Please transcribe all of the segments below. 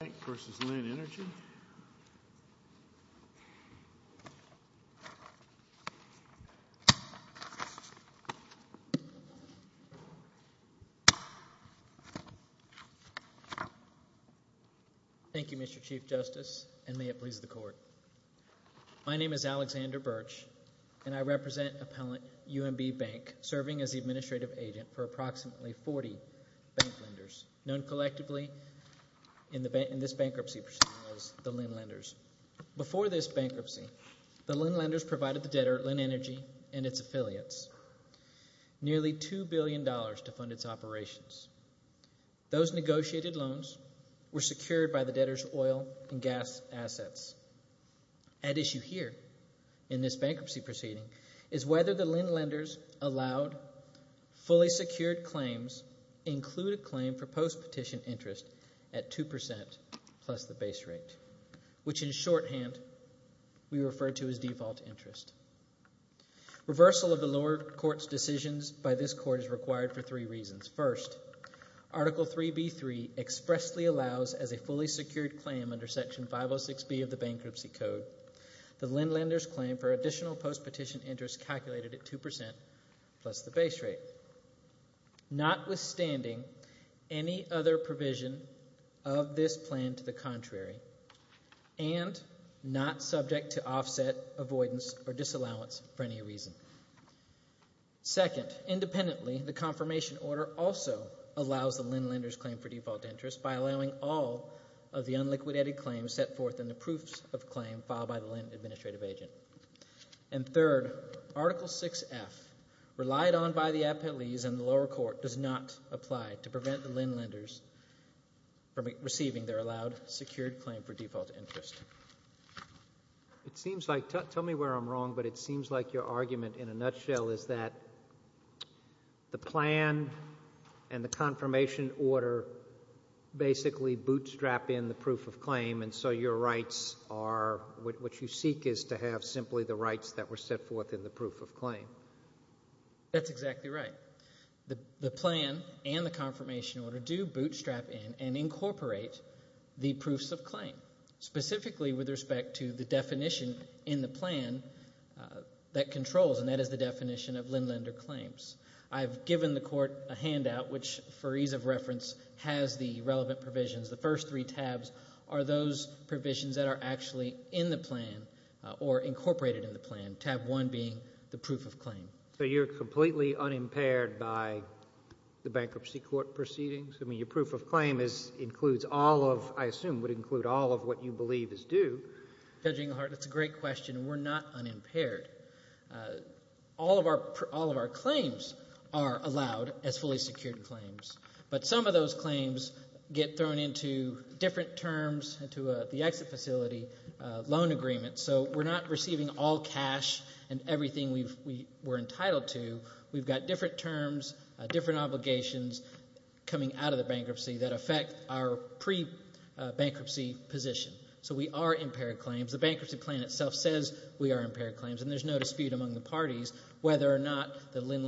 Bank v. Lynn Energy. Thank you, Mr. Chief Justice, and may it please the Court. My name is Alexander Birch, and I represent Appellant UMB Bank, serving as the administrative agent for approximately 40 bank lenders, known collectively in this bankruptcy proceeding as the Lynn Lenders. Before this bankruptcy, the Lynn Lenders provided the debtor, Lynn Energy, and its affiliates nearly $2 billion to fund its operations. Those negotiated loans were secured by the debtor's oil and gas assets. At issue here in this bankruptcy proceeding is whether the Lynn Lenders allowed fully secured claims include a claim for post-petition interest at 2% plus the base rate, which in shorthand we refer to as default interest. Reversal of the lower court's decisions by this court is required for three reasons. First, Article 3B3 expressly allows as a fully secured claim under Section 506B of the Bankruptcy 2% plus the base rate, notwithstanding any other provision of this plan to the contrary and not subject to offset, avoidance, or disallowance for any reason. Second, independently, the confirmation order also allows the Lynn Lenders claim for default interest by allowing all of the unliquidated claims set forth in the proofs of claim filed by the Lynn Administrative Agent. And third, Article 6F, relied on by the appellees in the lower court, does not apply to prevent the Lynn Lenders from receiving their allowed secured claim for default interest. It seems like, tell me where I'm wrong, but it seems like your argument in a nutshell is that the plan and the confirmation order basically bootstrap in the proof of claim and so your rights are, what you seek is to have simply the rights that were set forth in the proof of claim. That's exactly right. The plan and the confirmation order do bootstrap in and incorporate the proofs of claim, specifically with respect to the definition in the plan that controls, and that is the definition of Lynn Lender claims. I've given the court a handout which, for ease of reference, has the relevant provisions. The first three tabs are those provisions that are actually in the plan or incorporated in the plan, tab one being the proof of claim. So you're completely unimpaired by the bankruptcy court proceedings? I mean, your proof of claim is, includes all of, I assume, would include all of what you believe is due. Judge Englehart, that's a great question. We're not unimpaired. All of our claims are unimpaired claims. But some of those claims get thrown into different terms, into the exit facility, loan agreements. So we're not receiving all cash and everything we're entitled to. We've got different terms, different obligations coming out of the bankruptcy that affect our pre-bankruptcy position. So we are impaired claims. The bankruptcy plan itself says we are impaired claims and there's no dispute among the parties whether or not the Lynn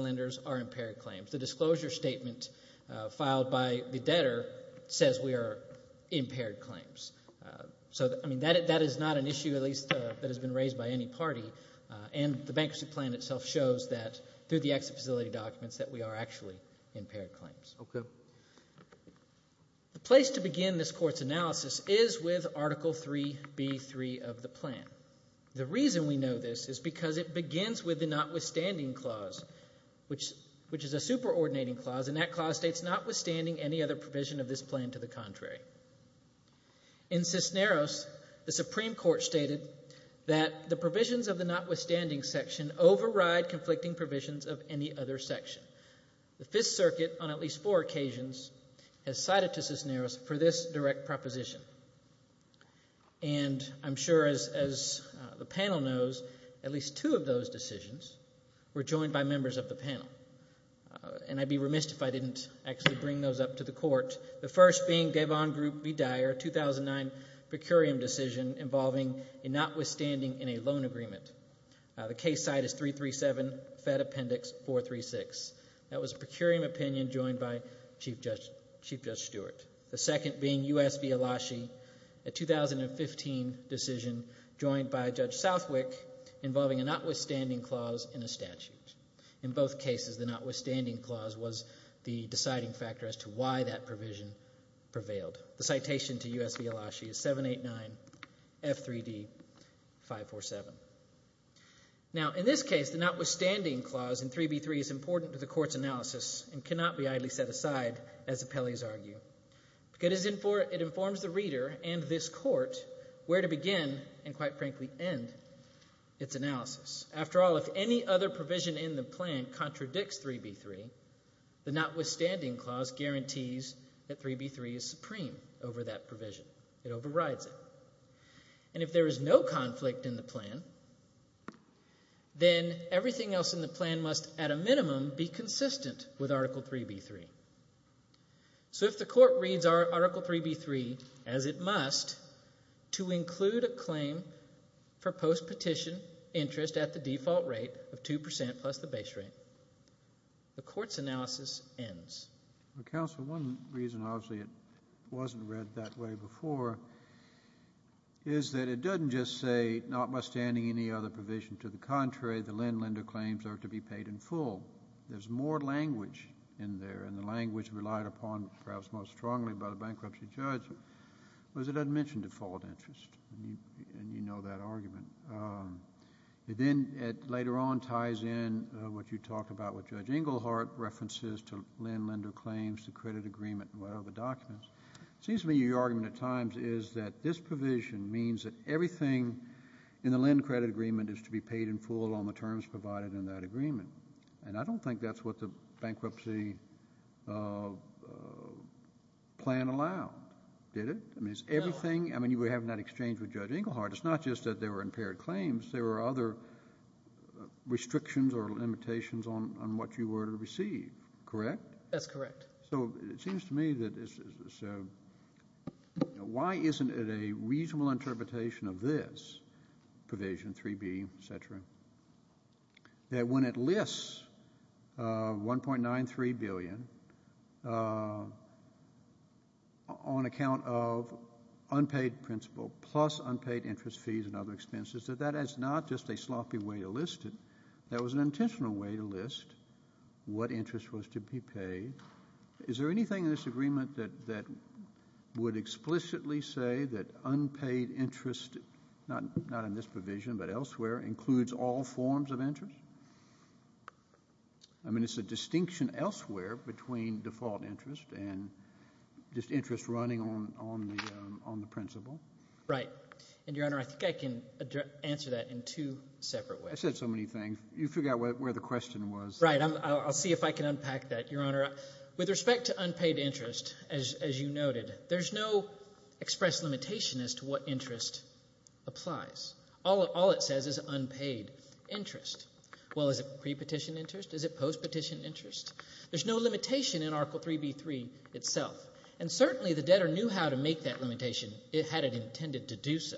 filed by the debtor says we are impaired claims. So, I mean, that is not an issue, at least, that has been raised by any party. And the bankruptcy plan itself shows that, through the exit facility documents, that we are actually impaired claims. Okay. The place to begin this court's analysis is with Article 3B3 of the plan. The reason we know this is because it begins with the notwithstanding clause, which is a superordinating clause, and that clause states notwithstanding any other provision of this plan to the contrary. In Cisneros, the Supreme Court stated that the provisions of the notwithstanding section override conflicting provisions of any other section. The Fifth Circuit, on at least four occasions, has cited to Cisneros for this direct proposition. And I'm sure, as the panel knows, at least two of those decisions were joined by members of the panel. And I'd be missed if I didn't actually bring those up to the court. The first being Gavon Group v. Dyer, 2009, per curiam decision involving a notwithstanding in a loan agreement. The case site is 337, Fed Appendix 436. That was a per curiam opinion joined by Chief Judge Stewart. The second being U.S. v. Elashi, a 2015 decision joined by Judge Southwick involving a notwithstanding clause in a statute. In both cases, the notwithstanding clause was the deciding factor as to why that provision prevailed. The citation to U.S. v. Elashi is 789, F3D, 547. Now, in this case, the notwithstanding clause in 3B3 is important to the Court's analysis and cannot be idly set aside, as appellees argue, because it informs the reader and this Court where to begin and, quite frankly, end its analysis. After all, if any other notwithstanding clause guarantees that 3B3 is supreme over that provision, it overrides it. And if there is no conflict in the plan, then everything else in the plan must, at a minimum, be consistent with Article 3B3. So if the Court reads Article 3B3 as it must to include a claim for post-petition interest at the default rate of 2% plus the base rate, the Court's analysis ends. Well, Counsel, one reason, obviously, it wasn't read that way before is that it doesn't just say notwithstanding any other provision. To the contrary, the LEND-LENDER claims are to be paid in full. There's more language in there, and the language relied upon, perhaps most strongly by the bankruptcy judge, was it had mentioned default interest, and you talked about what Judge Engelhardt references to LEND-LENDER claims, the credit agreement and whatever documents. It seems to me your argument at times is that this provision means that everything in the LEND-CREDIT agreement is to be paid in full on the terms provided in that agreement. And I don't think that's what the bankruptcy plan allowed, did it? I mean, is everything, I mean, you were having that exchange with Judge Engelhardt. It's not just that there were impaired claims. There were other restrictions or limitations on what you were to receive, correct? That's correct. So it seems to me that it's, you know, why isn't it a reasonable interpretation of this provision, 3B, et cetera, that when it lists $1.93 billion on account of unpaid principal plus unpaid interest fees and other expenses, that that is not just a sloppy way to list it. That was an intentional way to list what interest was to be paid. Is there anything in this agreement that would explicitly say that unpaid interest, not in this provision but elsewhere, includes all forms of interest? I mean, it's a distinction elsewhere between default interest and just interest running on the principal. Right. And, Your Honor, I think I can answer that in two separate ways. I said so many things. You figure out where the question was. Right. I'll see if I can unpack that, Your Honor. With respect to unpaid interest, as you noted, there's no express limitation as to what interest applies. All it says is unpaid interest. Well, is it prepetition interest? Is it postpetition interest? There's no limitation in Article 3B3 itself. And certainly the debtor knew how to make that limitation had it intended to do so.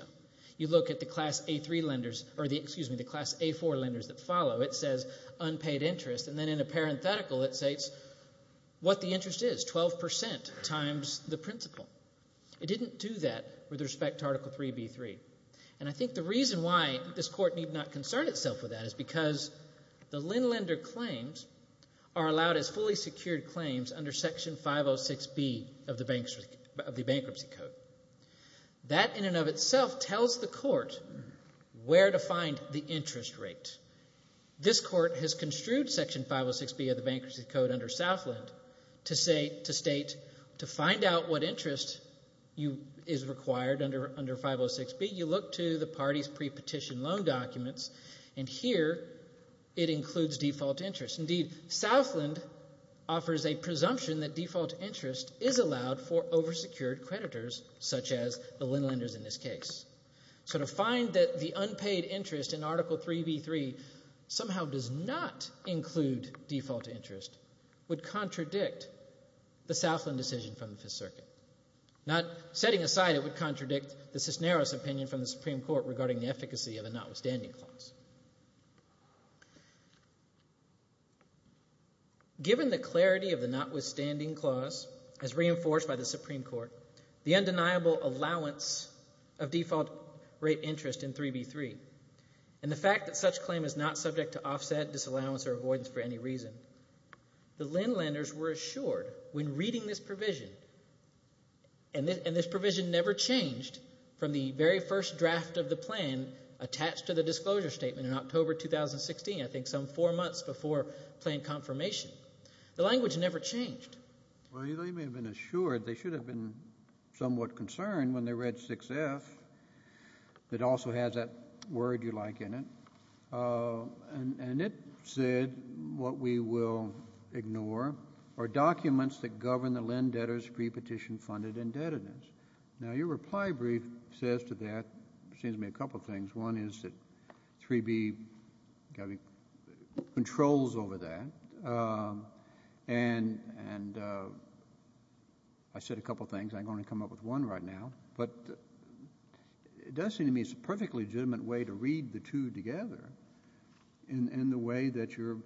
You look at the Class A3 lenders or the, excuse me, the Class A4 lenders that follow. It says unpaid interest. And then in a parenthetical it states what the interest is, 12 percent times the principal. It didn't do that with respect to Article 3B3. And I think the reason why this Court need not concern itself with that is because the Linn Lender claims are allowed as fully secured claims under Section 506B of the Bankruptcy Code. That in and of itself tells the Court where to find the interest rate. This Court has construed Section 506B of the Bankruptcy Code under Southland to state to find out what interest is required under 506B. You look to the party's prepetition loan documents. And here it includes default interest. Indeed, Southland offers a presumption that default interest is allowed for oversecured creditors such as the Linn Lenders in this case. So to find that the unpaid interest in Article 3B3 somehow does not include default interest would contradict the Southland decision from the Fifth Circuit. Not setting aside it would contradict the Cisneros opinion from the Supreme Court regarding the efficacy of a notwithstanding clause. Given the clarity of the notwithstanding clause as reinforced by the Supreme Court, the undeniable allowance of default rate interest in 3B3, and the fact that such claim is not subject to offset, disallowance, or avoidance for any reason, the Linn Lenders were assured when reading this provision, and this provision never changed from the very first draft of the plan attached to the disclosure statement in October 2016, I think some four months before plan confirmation. The language never changed. Well, you may have been assured. They should have been somewhat concerned when they read 6F that also has that word you like in it. And it said what we will ignore are documents that govern the Linn debtors' prepetition funded indebtedness. Now your reply brief says to that, seems to me a couple of things. One is that 3B controls over that. And I said a couple of things. I'm going to come up with one right now. But it does seem to me it's a perfectly legitimate way to read the two together in the way that your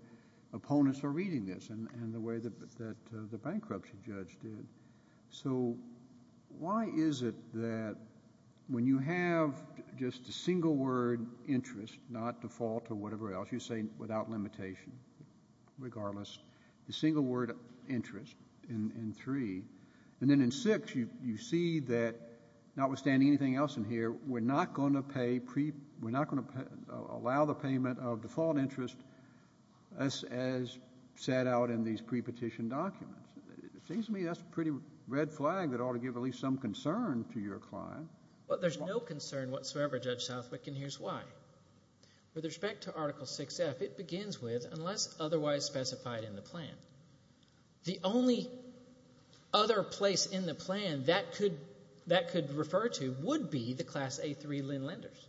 opponents are reading this and the way that the bankruptcy judge did. So why is it that when you have just a single word interest, not default or whatever else, you say without limitation, regardless, the single word interest in 3, and then in 6, you see that notwithstanding anything else in here, we're not going to allow the payment of default interest as set out in these prepetition documents. It seems to me that's a pretty red flag that ought to give at least some concern to your client. Well, there's no concern whatsoever, Judge Southwick, and here's why. With respect to Article 6F, it begins with unless otherwise specified in the plan. The only other place in the plan that could refer to would be the Class A3 Linn lenders.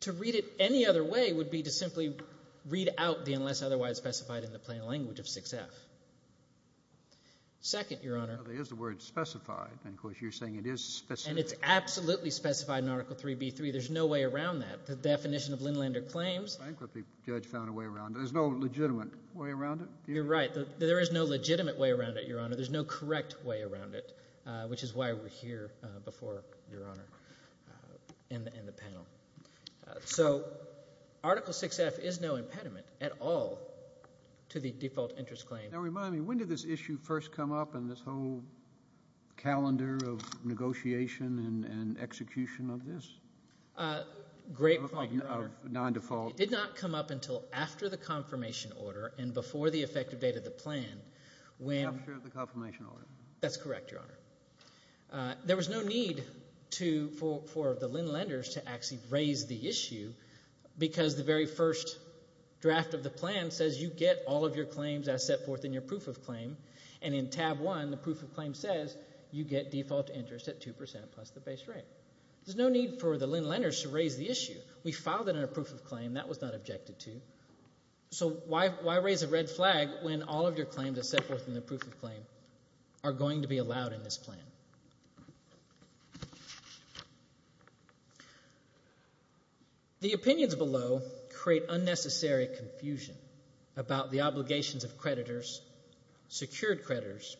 To read it any other way would be to simply read out the unless otherwise specified in the plan language of Article 6F. Second, Your Honor. Well, there is the word specified, and of course you're saying it is specified. And it's absolutely specified in Article 3B3. There's no way around that. The definition of Linn lender claims... The bankruptcy judge found a way around it. There's no legitimate way around it? You're right. There is no legitimate way around it, Your Honor. There's no correct way around it, which is why we're here before, Your Honor, in the panel. So Article 6F is no impediment at all to the default interest claim. Now remind me, when did this issue first come up in this whole calendar of negotiation and execution of this? Great point, Your Honor. Of non-default. It did not come up until after the confirmation order and before the effective date of the plan when... After the confirmation order. That's correct, Your Honor. There was no need for the Linn lenders to actually raise the issue because the very first draft of the plan says you get all of your claims as set forth in your proof of claim, and in tab 1, the proof of claim says you get default interest at 2% plus the base rate. There's no need for the Linn lenders to raise the issue. We filed it in our proof of claim. That was not objected to. So why raise a red flag when all of your claims as set forth in the proof of claim are going to be allowed in this plan? The opinions below create unnecessary confusion about the obligations of creditors, secured creditors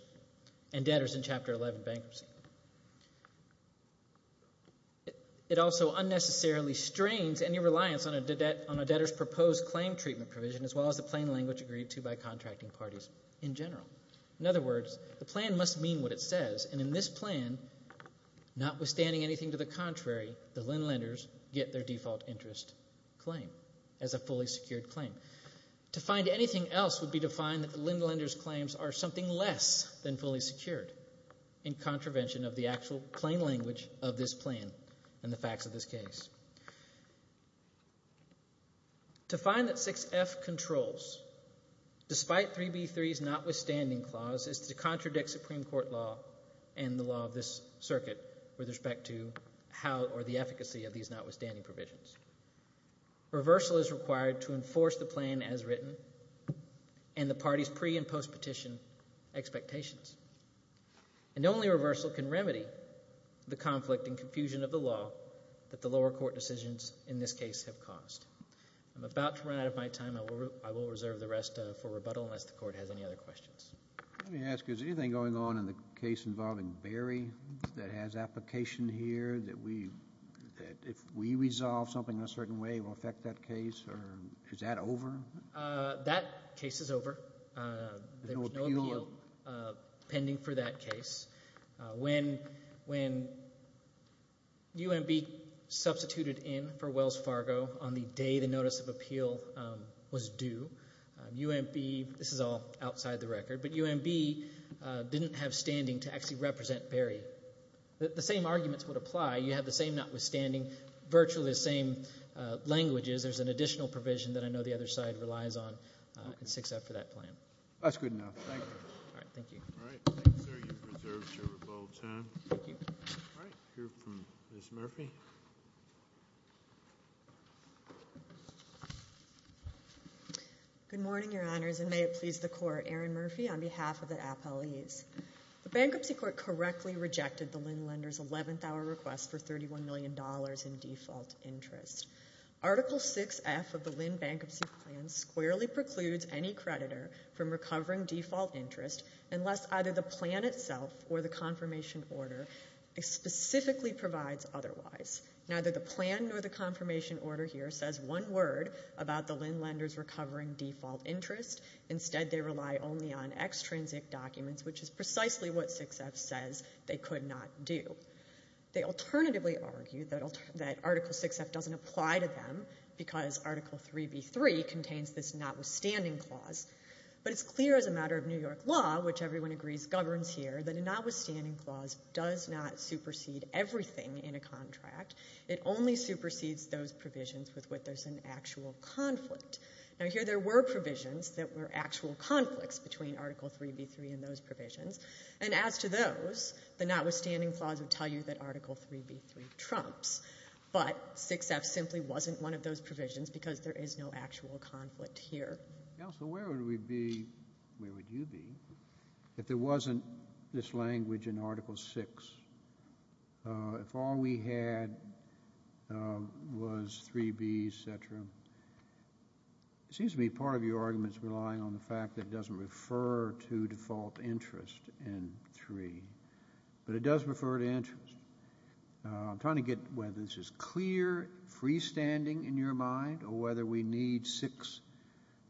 and debtors in Chapter 11 bankruptcy. It also unnecessarily strains any reliance on a debtor's proposed claim treatment provision as well as the plain language agreed to by contracting parties in general. In other words, the plan must mean what it says, and in this plan, notwithstanding anything to the contrary, the Linn lenders get their default interest claim as a fully secured claim. To find anything else would be to find that the Linn lenders' claims are something less than fully secured in contravention of the actual plain language of this plan and the facts of this case. To find that 6F controls, despite 3B3's notwithstanding clause, is to contradict Supreme Court law and the law of this circuit with respect to how or the efficacy of these notwithstanding provisions. Reversal is required to enforce the plan as written and the parties' pre- and post-petition expectations. And only reversal can remedy the conflict and confusion of the law that the lower court decisions in this case have caused. I'm about to run out of my time. I will reserve the rest for rebuttal unless the Court has any other questions. Let me ask, is there anything going on in the case involving Berry that has application here that if we resolve something a certain way will affect that case, or is that over? That case is over. There was no appeal pending for that case. When UMB substituted in for Wells Fargo on the day the notice of appeal was due, UMB, this is all outside the record, but UMB didn't have standing to actually represent Berry. The same arguments would apply. You have the same notwithstanding, virtually the same languages. There's an additional provision that I know the other side relies on in 6F for that plan. That's good enough. Thank you. Thank you. All right. Thank you, sir. You've reserved your rebuttal time. Thank you. All right. We'll hear from Ms. Murphy. Good morning, Your Honors, and may it please the Court. Erin Murphy on behalf of the appellees. The Bankruptcy Court correctly rejected the LEND Lender's 11th hour request for $31 million in default interest. Article 6F of the LEND Bankruptcy Plan squarely precludes any creditor from recovering default interest unless either the plan itself or the confirmation order specifically provides otherwise. Neither the plan nor the confirmation order here says one word about the LEND Lender's recovering default interest. Instead, they rely only on extrinsic documents, which is precisely what 6F says they could not do. They alternatively argue that Article 6F doesn't apply to them because Article 3B.3 contains this notwithstanding clause. But it's clear as a matter of New York law, which everyone agrees governs here, that a notwithstanding clause does not supersede everything in a contract. It only supersedes those provisions with which there's an actual conflict. Now, here there were provisions that were actual conflicts between Article 3B.3 and those provisions, and as to those, the notwithstanding clause would tell you that Article 3B.3 trumps. But 6F simply wasn't one of those provisions because there is no actual conflict here. Counsel, where would we be, where would you be, if there wasn't this language in Article 6, if all we had was 3B, etc.? It seems to me part of your argument is relying on the fact that it doesn't refer to default interest in 3, but it does refer to interest. I'm trying to get whether this is clear freestanding in your mind or whether we need 6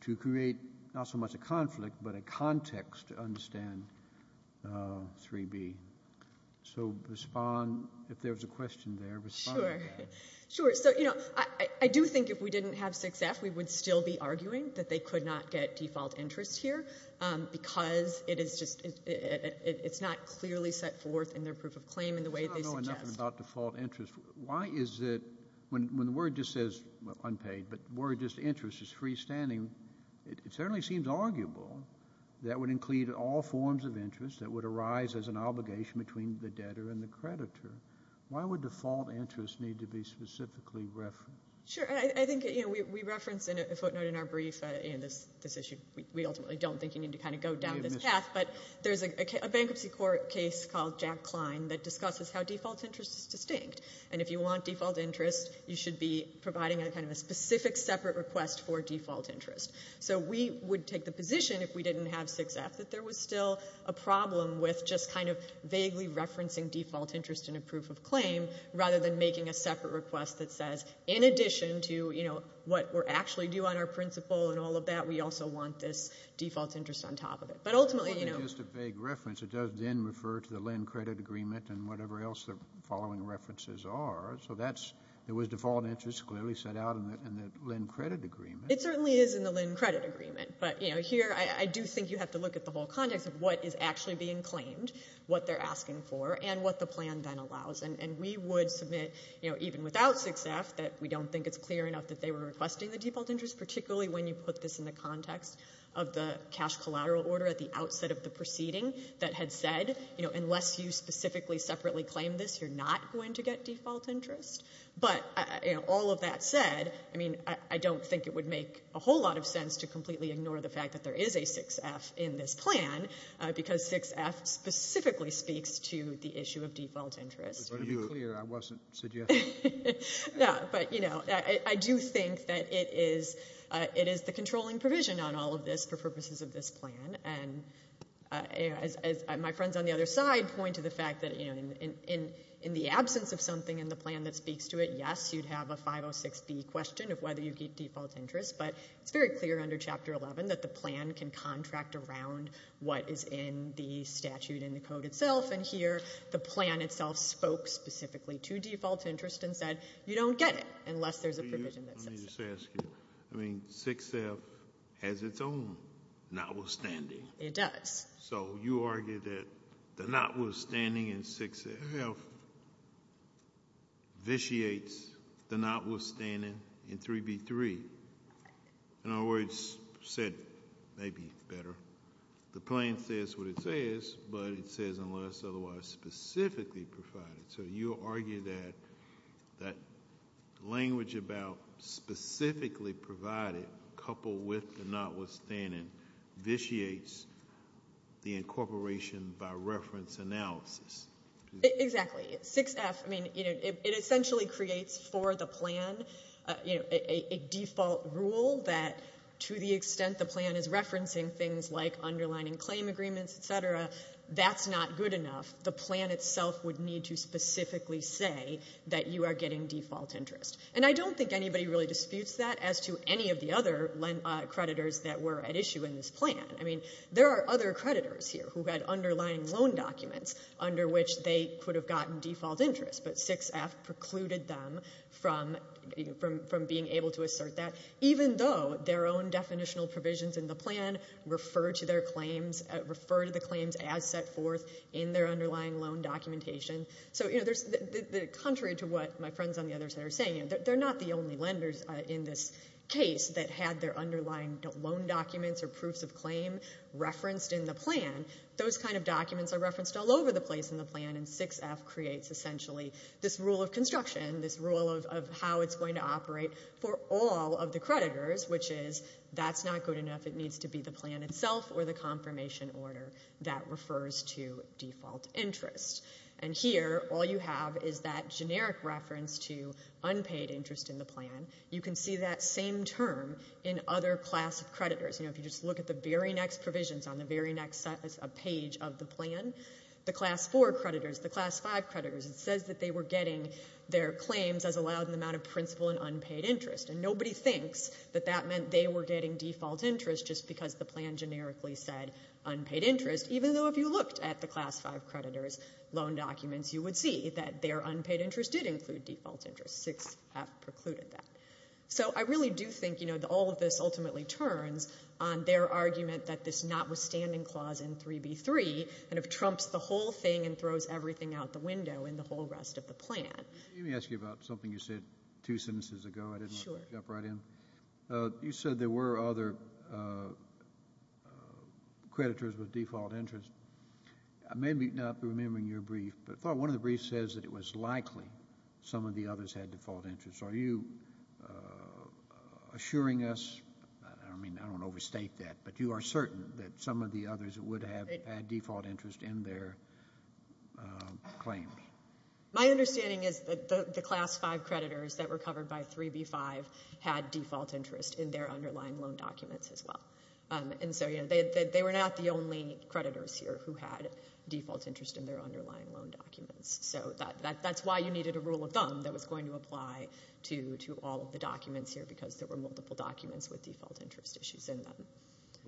to create not so much a conflict, but a context to understand 3B. So respond, if there's a question there, respond to that. Sure. Sure. So, you know, I do think if we didn't have 6F, we would still be arguing that they could not get default interest here because it is just, it's not clearly set forth in their proof of claim in the way they suggest. I don't know enough about default interest. Why is it when the word just says unpaid, but the word just interest is freestanding, it certainly seems arguable that would include all forms of interest that would arise as an obligation between the debtor and the creditor. Why would default interest need to be specifically referenced? Sure. I think, you know, we reference a footnote in our brief in this issue. We ultimately don't think you need to kind of go down this path, but there's a bankruptcy court case called Jack Klein that discusses how default interest is distinct, and if you want default interest, you should be providing a kind of a specific separate request for default interest. So we would take the position, if we didn't have 6F, that there was still a problem with just kind of vaguely referencing default interest in a proof of claim rather than making a separate request that says, in addition to, you know, what we're actually due on our principal and all of that, we also want this default interest on top of it. But ultimately, you know. It's not just a vague reference. It does then refer to the Lend Credit Agreement and whatever else the following references are. So that's, there was default interest clearly set out in the Lend Credit Agreement. It certainly is in the Lend Credit Agreement. But, you know, here, I do think you have to look at the whole context of what is actually being claimed, what they're asking for, and what the plan then allows. And we would submit, you know, even without 6F, that we don't think it's clear enough that they were requesting the default interest, particularly when you put this in the context of the cash collateral order at the outset of the proceeding that had said, you know, unless you specifically, separately claim this, you're not going to get default interest. But, you know, all of that said, I mean, I don't think it would make a whole lot of sense to completely ignore the fact that there is a 6F in this plan, because 6F specifically speaks to the issue of default interest. It's very clear. I wasn't suggesting. Yeah. But, you know, I do think that it is, it is the controlling provision on all of this for purposes of this plan. And as my friends on the other side point to the fact that, you know, in the absence of something in the plan that speaks to it, yes, you'd have a 506B question of whether you get default interest. But it's very clear under Chapter 11 that the plan can contract around what is in the statute and the code itself. And here, the plan itself spoke specifically to default interest and said, you don't get it unless there's a provision that says so. I mean, 6F has its own notwithstanding. It does. So you argue that the notwithstanding in 6F vitiates the notwithstanding in 3B3. In other words, said, maybe better, the plan says what it says, but it says unless otherwise specifically provided. So you argue that language about specifically provided coupled with the notwithstanding vitiates the incorporation by reference analysis. Exactly. 6F, I mean, it essentially creates for the plan a default rule that to the extent the plan is referencing things like underlining claim agreements, et cetera, that's not good enough, the plan itself would need to specifically say that you are getting default interest. And I don't think anybody really disputes that as to any of the other creditors that were at issue in this plan. I mean, there are other creditors here who had underlying loan documents under which they could have gotten default interest, but 6F precluded them from being able to assert that even though their own definitional provisions in the plan refer to their claims, refer to the claims as set forth in their underlying loan documentation. So contrary to what my friends on the other side are saying, they're not the only lenders in this case that had their underlying loan documents or proofs of claim referenced in the plan. Those kind of documents are referenced all over the place in the plan, and 6F creates essentially this rule of construction, this rule of how it's going to operate for all of the creditors, which is that's not good enough, it needs to be the plan itself or the confirmation order that refers to default interest. And here, all you have is that generic reference to unpaid interest in the plan. You can see that same term in other class of creditors. You know, if you just look at the very next provisions on the very next page of the plan, the class 4 creditors, the class 5 creditors, it says that they were getting their claims as allowed in the amount of principal and unpaid interest. And nobody thinks that that meant they were getting default interest just because the plan generically said unpaid interest, even though if you looked at the class 5 creditors' loan documents, you would see that their unpaid interest did include default interest. 6F precluded that. So I really do think, you know, that all of this ultimately turns on their argument that this notwithstanding clause in 3B3 kind of trumps the whole thing and throws everything out the window in the whole rest of the plan. Let me ask you about something you said two sentences ago. I didn't want to jump right in. You said there were other creditors with default interest. I may not be remembering your brief, but I thought one of the briefs says that it was likely some of the others had default interest. Are you assuring us, I don't mean to overstate that, but you are certain that some of the others would have had default interest in their claims? My understanding is that the class 5 creditors that were covered by 3B5 had default interest in their underlying loan documents as well. And so, you know, they were not the only creditors here who had default interest in their underlying loan documents. So that's why you needed a rule of thumb that was going to apply to all of the documents here because there were multiple documents with default interest issues in them.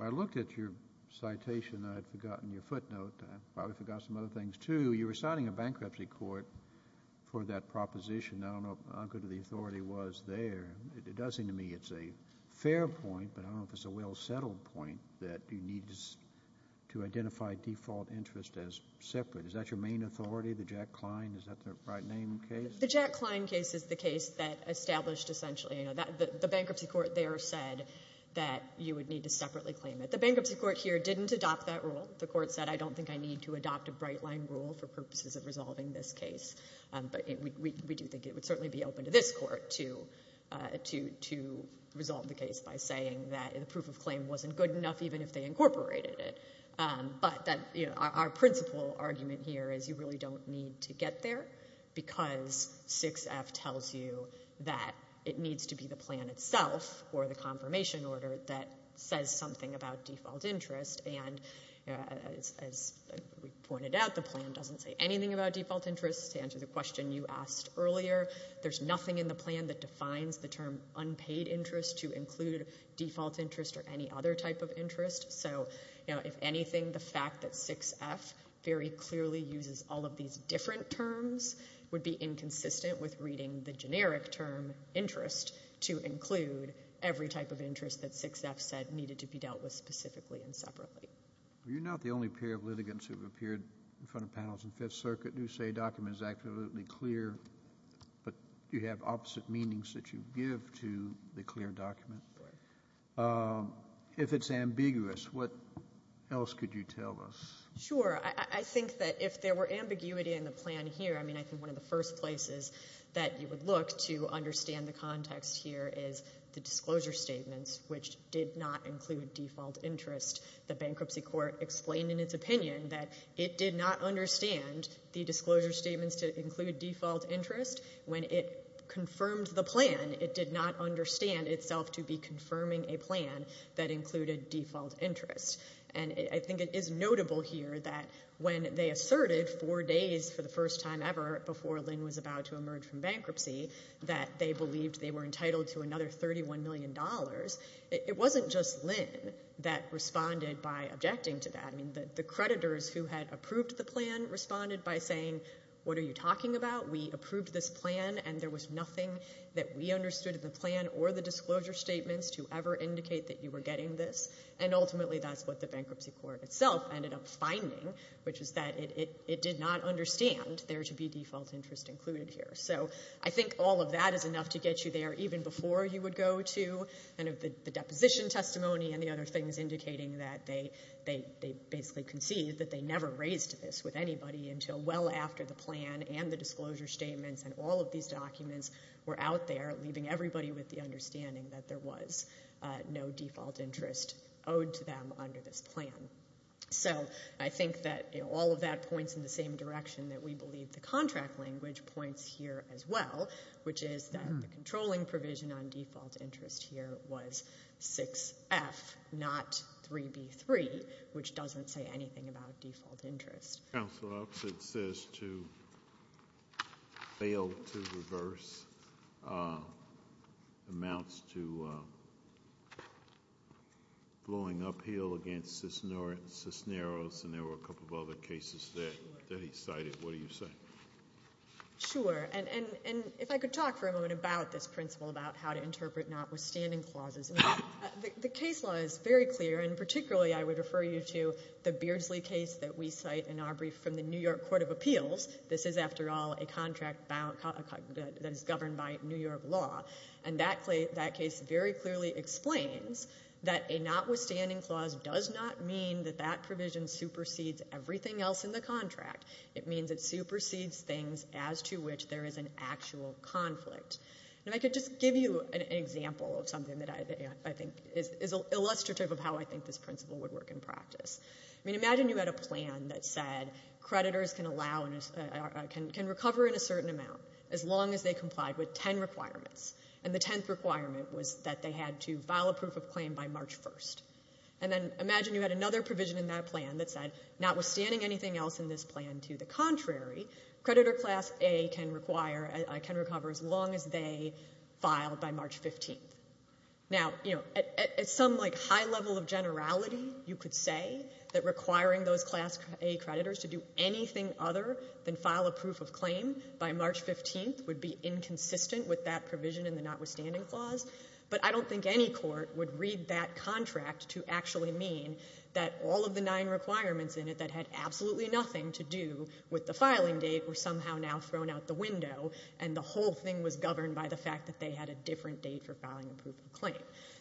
I looked at your citation. I'd forgotten your footnote. I probably forgot some other things, too. You were signing a bankruptcy court for that proposition. I don't know how good of the authority was there. It does seem to me it's a fair point, but I don't know if it's a well-settled point that you need to identify default interest as separate. Is that your main authority, the Jack Klein? Is that the right name case? The Jack Klein case is the case that established essentially, you know, the bankruptcy court there said that you would need to separately claim it. The bankruptcy court here didn't adopt that rule. The court said, I don't think I need to adopt a bright-line rule for purposes of resolving this case. But we do think it would certainly be open to this court to resolve the case by saying that the proof of claim wasn't good enough even if they incorporated it. But that, you know, our principal argument here is you really don't need to get there because 6F tells you that it needs to be the plan itself or the confirmation order that says something about default interest. And as we pointed out, the plan doesn't say anything about default interest. To answer the question you asked earlier, there's nothing in the plan that defines the term unpaid interest to include default interest or any other type of interest. So, you know, if anything, the fact that 6F very clearly uses all of these different terms would be inconsistent with reading the generic term interest to include every type of interest that 6F said needed to be dealt with specifically and separately. Are you not the only pair of litigants who have appeared in front of panels in Fifth Circuit who say a document is absolutely clear, but you have opposite meanings that you give to the clear document? Right. If it's ambiguous, what else could you tell us? Sure. I think that if there were ambiguity in the plan here, I mean, I think one of the first places that you would look to understand the context here is the disclosure statements, which did not include default interest. The bankruptcy court explained in its opinion that it did not understand the disclosure statements to include default interest. When it confirmed the plan, it did not understand itself to be confirming a plan that included default interest. And I think it is notable here that when they asserted four days for the first time ever before Lynn was about to emerge from bankruptcy that they believed they were entitled to another $31 million, it wasn't just Lynn that responded by objecting to that. I mean, the creditors who had approved the plan responded by saying, what are you talking about? We approved this plan and there was nothing that we understood in the plan or the disclosure statements to ever indicate that you were getting this. And ultimately that's what the bankruptcy court itself ended up finding, which is that it did not understand there to be default interest included here. So I think all of that is enough to get you there even before you would go to kind of the deposition testimony and the other things indicating that they basically conceived that they never raised this with anybody until well after the plan and the disclosure statements and all of these documents were out there leaving everybody with the understanding that there was no default interest owed to them under this plan. So I think that, you know, all of that points in the same direction that we believe the contract language points here as well, which is that the controlling provision on default interest here was 6F, not 3B3, which doesn't say anything about amounts to blowing uphill against Cisneros, and there were a couple of other cases there that he cited. What do you say? Sure. And if I could talk for a moment about this principle about how to interpret notwithstanding clauses. The case law is very clear, and particularly I would refer you to the Beardsley case that we cite in our brief from the New York Court of Appeals. This is, after all, a contract that is governed by New York law, and that case very clearly explains that a notwithstanding clause does not mean that that provision supersedes everything else in the contract. It means it supersedes things as to which there is an actual conflict. And I could just give you an example of something that I think is illustrative of how I think this principle would work in practice. I mean, imagine you had a plan that said creditors can recover in a certain amount as long as they complied with 10 requirements, and the 10th requirement was that they had to file a proof of claim by March 1st. And then imagine you had another provision in that plan that said, notwithstanding anything else in this plan to the contrary, creditor class A can recover as long as they file by March 15th. Now, at some high level of generality, you could say that requiring those class A creditors to do anything other than file a proof of claim by March 15th would be inconsistent with that provision in the notwithstanding clause. But I don't think any court would read that contract to actually mean that all of the nine requirements in it that had absolutely nothing to do with the filing date were somehow now thrown out the window, and the whole thing was governed by the fact that they had a different date for filing a proof of claim.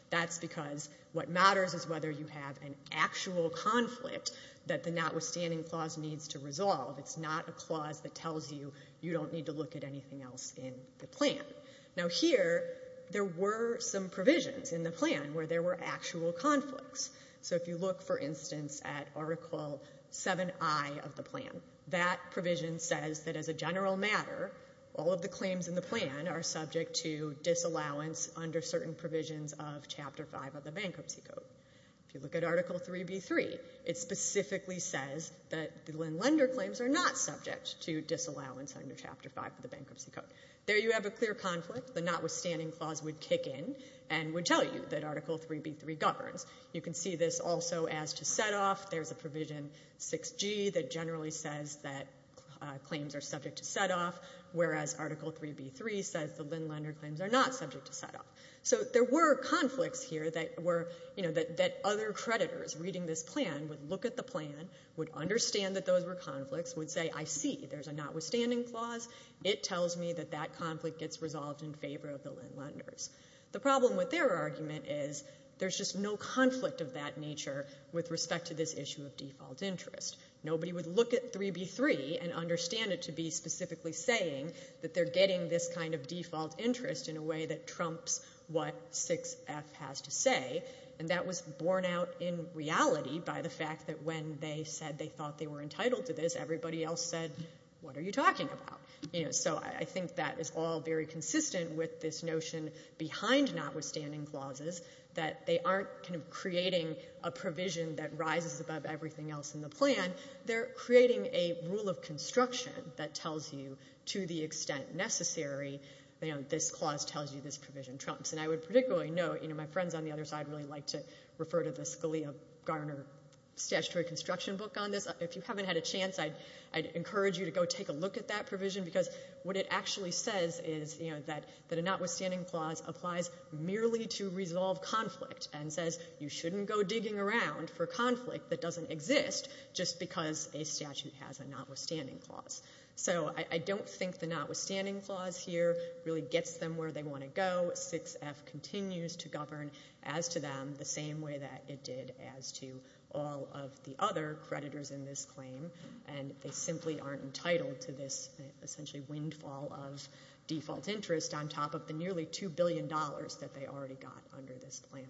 That's because what matters is whether you have an actual conflict that the notwithstanding clause needs to resolve. It's not a clause that tells you you don't need to look at anything else in the plan. Now here, there were some provisions in the plan where there were actual conflicts. So if you look, for instance, at Article 7i of the plan, that provision says that as a general matter, all of the claims in the plan are subject to disallowance under certain provisions of Chapter 5 of the Bankruptcy Code. If you look at Article 3b3, it specifically says that the Linn Lender claims are not subject to disallowance under Chapter 5 of the Bankruptcy Code. There you have a clear conflict. The notwithstanding clause would kick in and would tell you that Article 3b3 governs. You can see this also as to set-off. There's a provision 6g that generally says that claims are subject to set-off, whereas Article 3b3 says the Linn Lender claims are not subject to set-off. So there were conflicts here that were, you would look at the plan, would understand that those were conflicts, would say, I see, there's a notwithstanding clause. It tells me that that conflict gets resolved in favor of the Linn Lenders. The problem with their argument is there's just no conflict of that nature with respect to this issue of default interest. Nobody would look at 3b3 and understand it to be specifically saying that they're getting this kind of default interest in a way that by the fact that when they said they thought they were entitled to this, everybody else said, what are you talking about? So I think that is all very consistent with this notion behind notwithstanding clauses that they aren't kind of creating a provision that rises above everything else in the plan. They're creating a rule of construction that tells you to the extent necessary, this clause tells you this provision trumps. And I would particularly note, my friends on the other side really like to refer to the Scalia-Garner statutory construction book on this. If you haven't had a chance, I'd encourage you to go take a look at that provision because what it actually says is that a notwithstanding clause applies merely to resolve conflict and says you shouldn't go digging around for conflict that doesn't exist just because a statute has a notwithstanding clause. So I don't think the notwithstanding clause here really gets them where they want to go. 6F continues to govern as to them the same way that it did as to all of the other creditors in this claim. And they simply aren't entitled to this essentially windfall of default interest on top of the nearly $2 billion that they already got under this plan.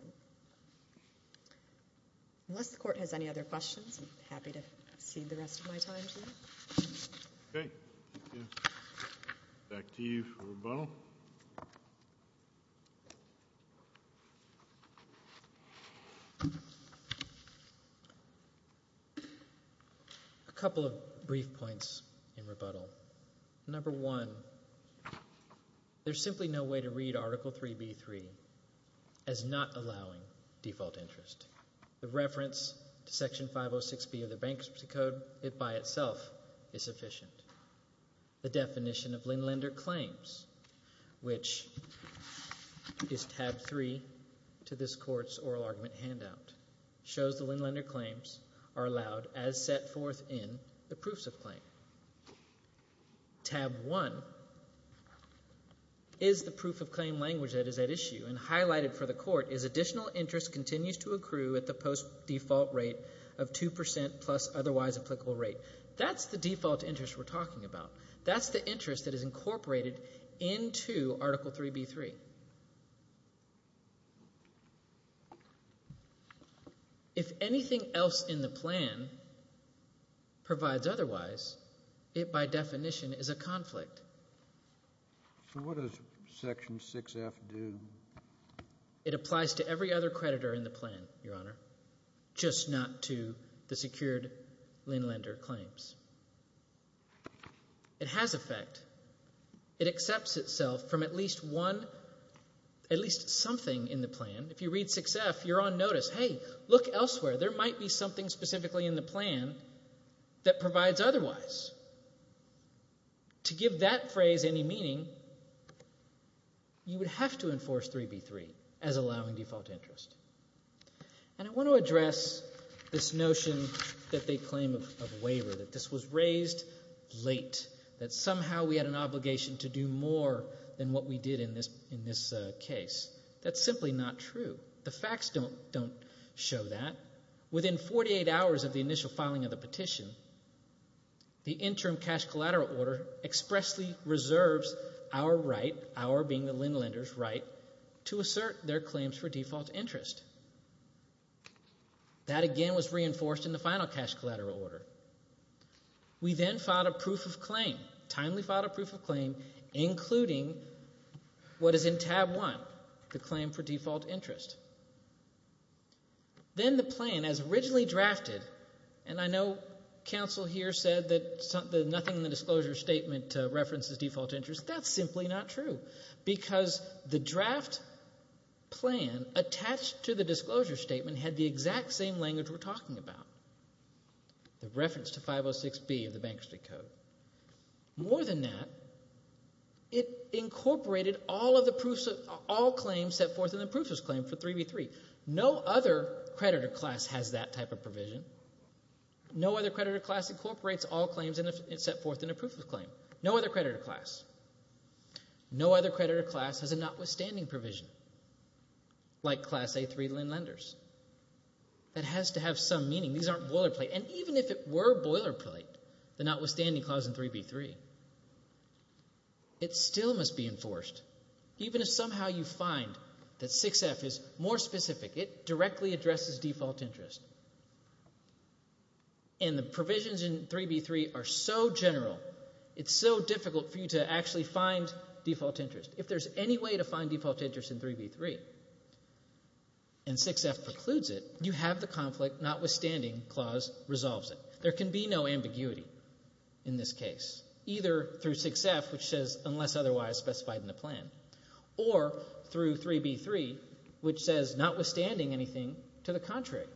Unless the court has any other questions, I'm happy to back to you for rebuttal. A couple of brief points in rebuttal. Number one, there's simply no way to read Article 3B.3 as not allowing default interest. The reference to Section 3B, the definition of Linn Lender claims, which is tab 3 to this court's oral argument handout, shows the Linn Lender claims are allowed as set forth in the proofs of claim. Tab 1 is the proof of claim language that is at issue and highlighted for the court is additional interest continues to accrue at the post default rate of 2% plus otherwise applicable rate. That's the default interest we're talking about. That's the interest that is incorporated into Article 3B.3. If anything else in the plan provides otherwise, it by definition is a conflict. So what does Section 6F do? It applies to every other Linn Lender claims. It has effect. It accepts itself from at least one, at least something in the plan. If you read 6F, you're on notice. Hey, look elsewhere. There might be something specifically in the plan that provides otherwise. To give that phrase any meaning, you would have to enforce 3B.3 as allowing default interest. And I want to address this notion that they made a claim of waiver, that this was raised late, that somehow we had an obligation to do more than what we did in this case. That's simply not true. The facts don't show that. Within 48 hours of the initial filing of the petition, the interim cash collateral order expressly reserves our right, our being the Linn Lender's right, to assert their claims for default interest. That again was reinforced in the final cash collateral order. We then filed a proof of claim, timely filed a proof of claim, including what is in Tab 1, the claim for default interest. Then the plan as originally drafted, and I know counsel here said that nothing in the disclosure statement references default interest. That's simply not true because the draft plan attached to the disclosure statement had the exact same language we're talking about, the reference to 506B of the Bankruptcy Code. More than that, it incorporated all claims set forth in the proof of claim for 3B.3. No other creditor class has that type of provision. No other creditor class incorporates all claims set forth in a proof of claim. No other creditor class. No other provision. Like Class A3 Linn Lenders. That has to have some meaning. These aren't boilerplate. And even if it were boilerplate, the notwithstanding clause in 3B.3, it still must be enforced. Even if somehow you find that 6F is more specific, it directly addresses default interest. And the provisions in 3B.3 are so general, it's so difficult for you to actually find default interest. If there's any way to find default interest in 3B.3 and 6F precludes it, you have the conflict notwithstanding clause resolves it. There can be no ambiguity in this case, either through 6F, which says unless otherwise specified in the plan, or through 3B.3, which says notwithstanding anything to the contrary.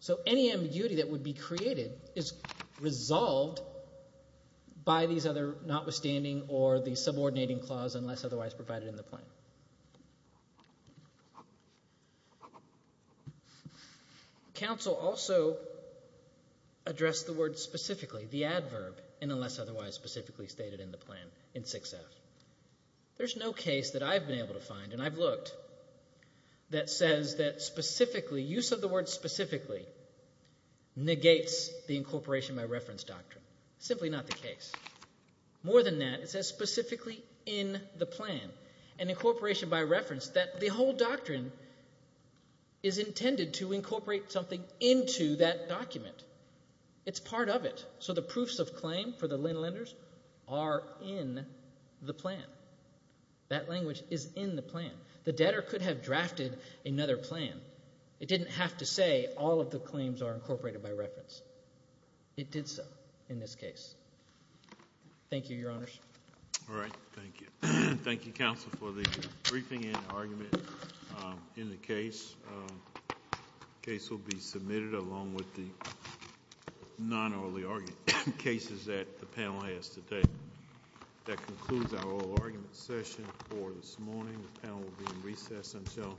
So any ambiguity that would be created is resolved by these other notwithstanding or the subordinating clause unless otherwise provided in the plan. Counsel also addressed the word specifically, the adverb, in unless otherwise specifically stated in the plan in 6F. There's no case that I've been able to find and I've looked that says that specifically, use of the word specifically negates the incorporation by reference doctrine. Simply not the case. More than that, it says specifically in the plan. An incorporation by reference that the whole doctrine is intended to incorporate something into that document. It's part of it. So the proofs of claim for the Linn lenders are in the plan. That language is in the plan. The debtor could have drafted another plan. It didn't have to say all of the claims are incorporated by reference. It did so in this case. Thank you, Your Honors. All right. Thank you. Thank you, Counsel, for the briefing and argument in the case. The case will be submitted along with the non-orally argued cases that the panel has today. That concludes our oral argument session for this morning. The panel will be in recess until 8 o'clock.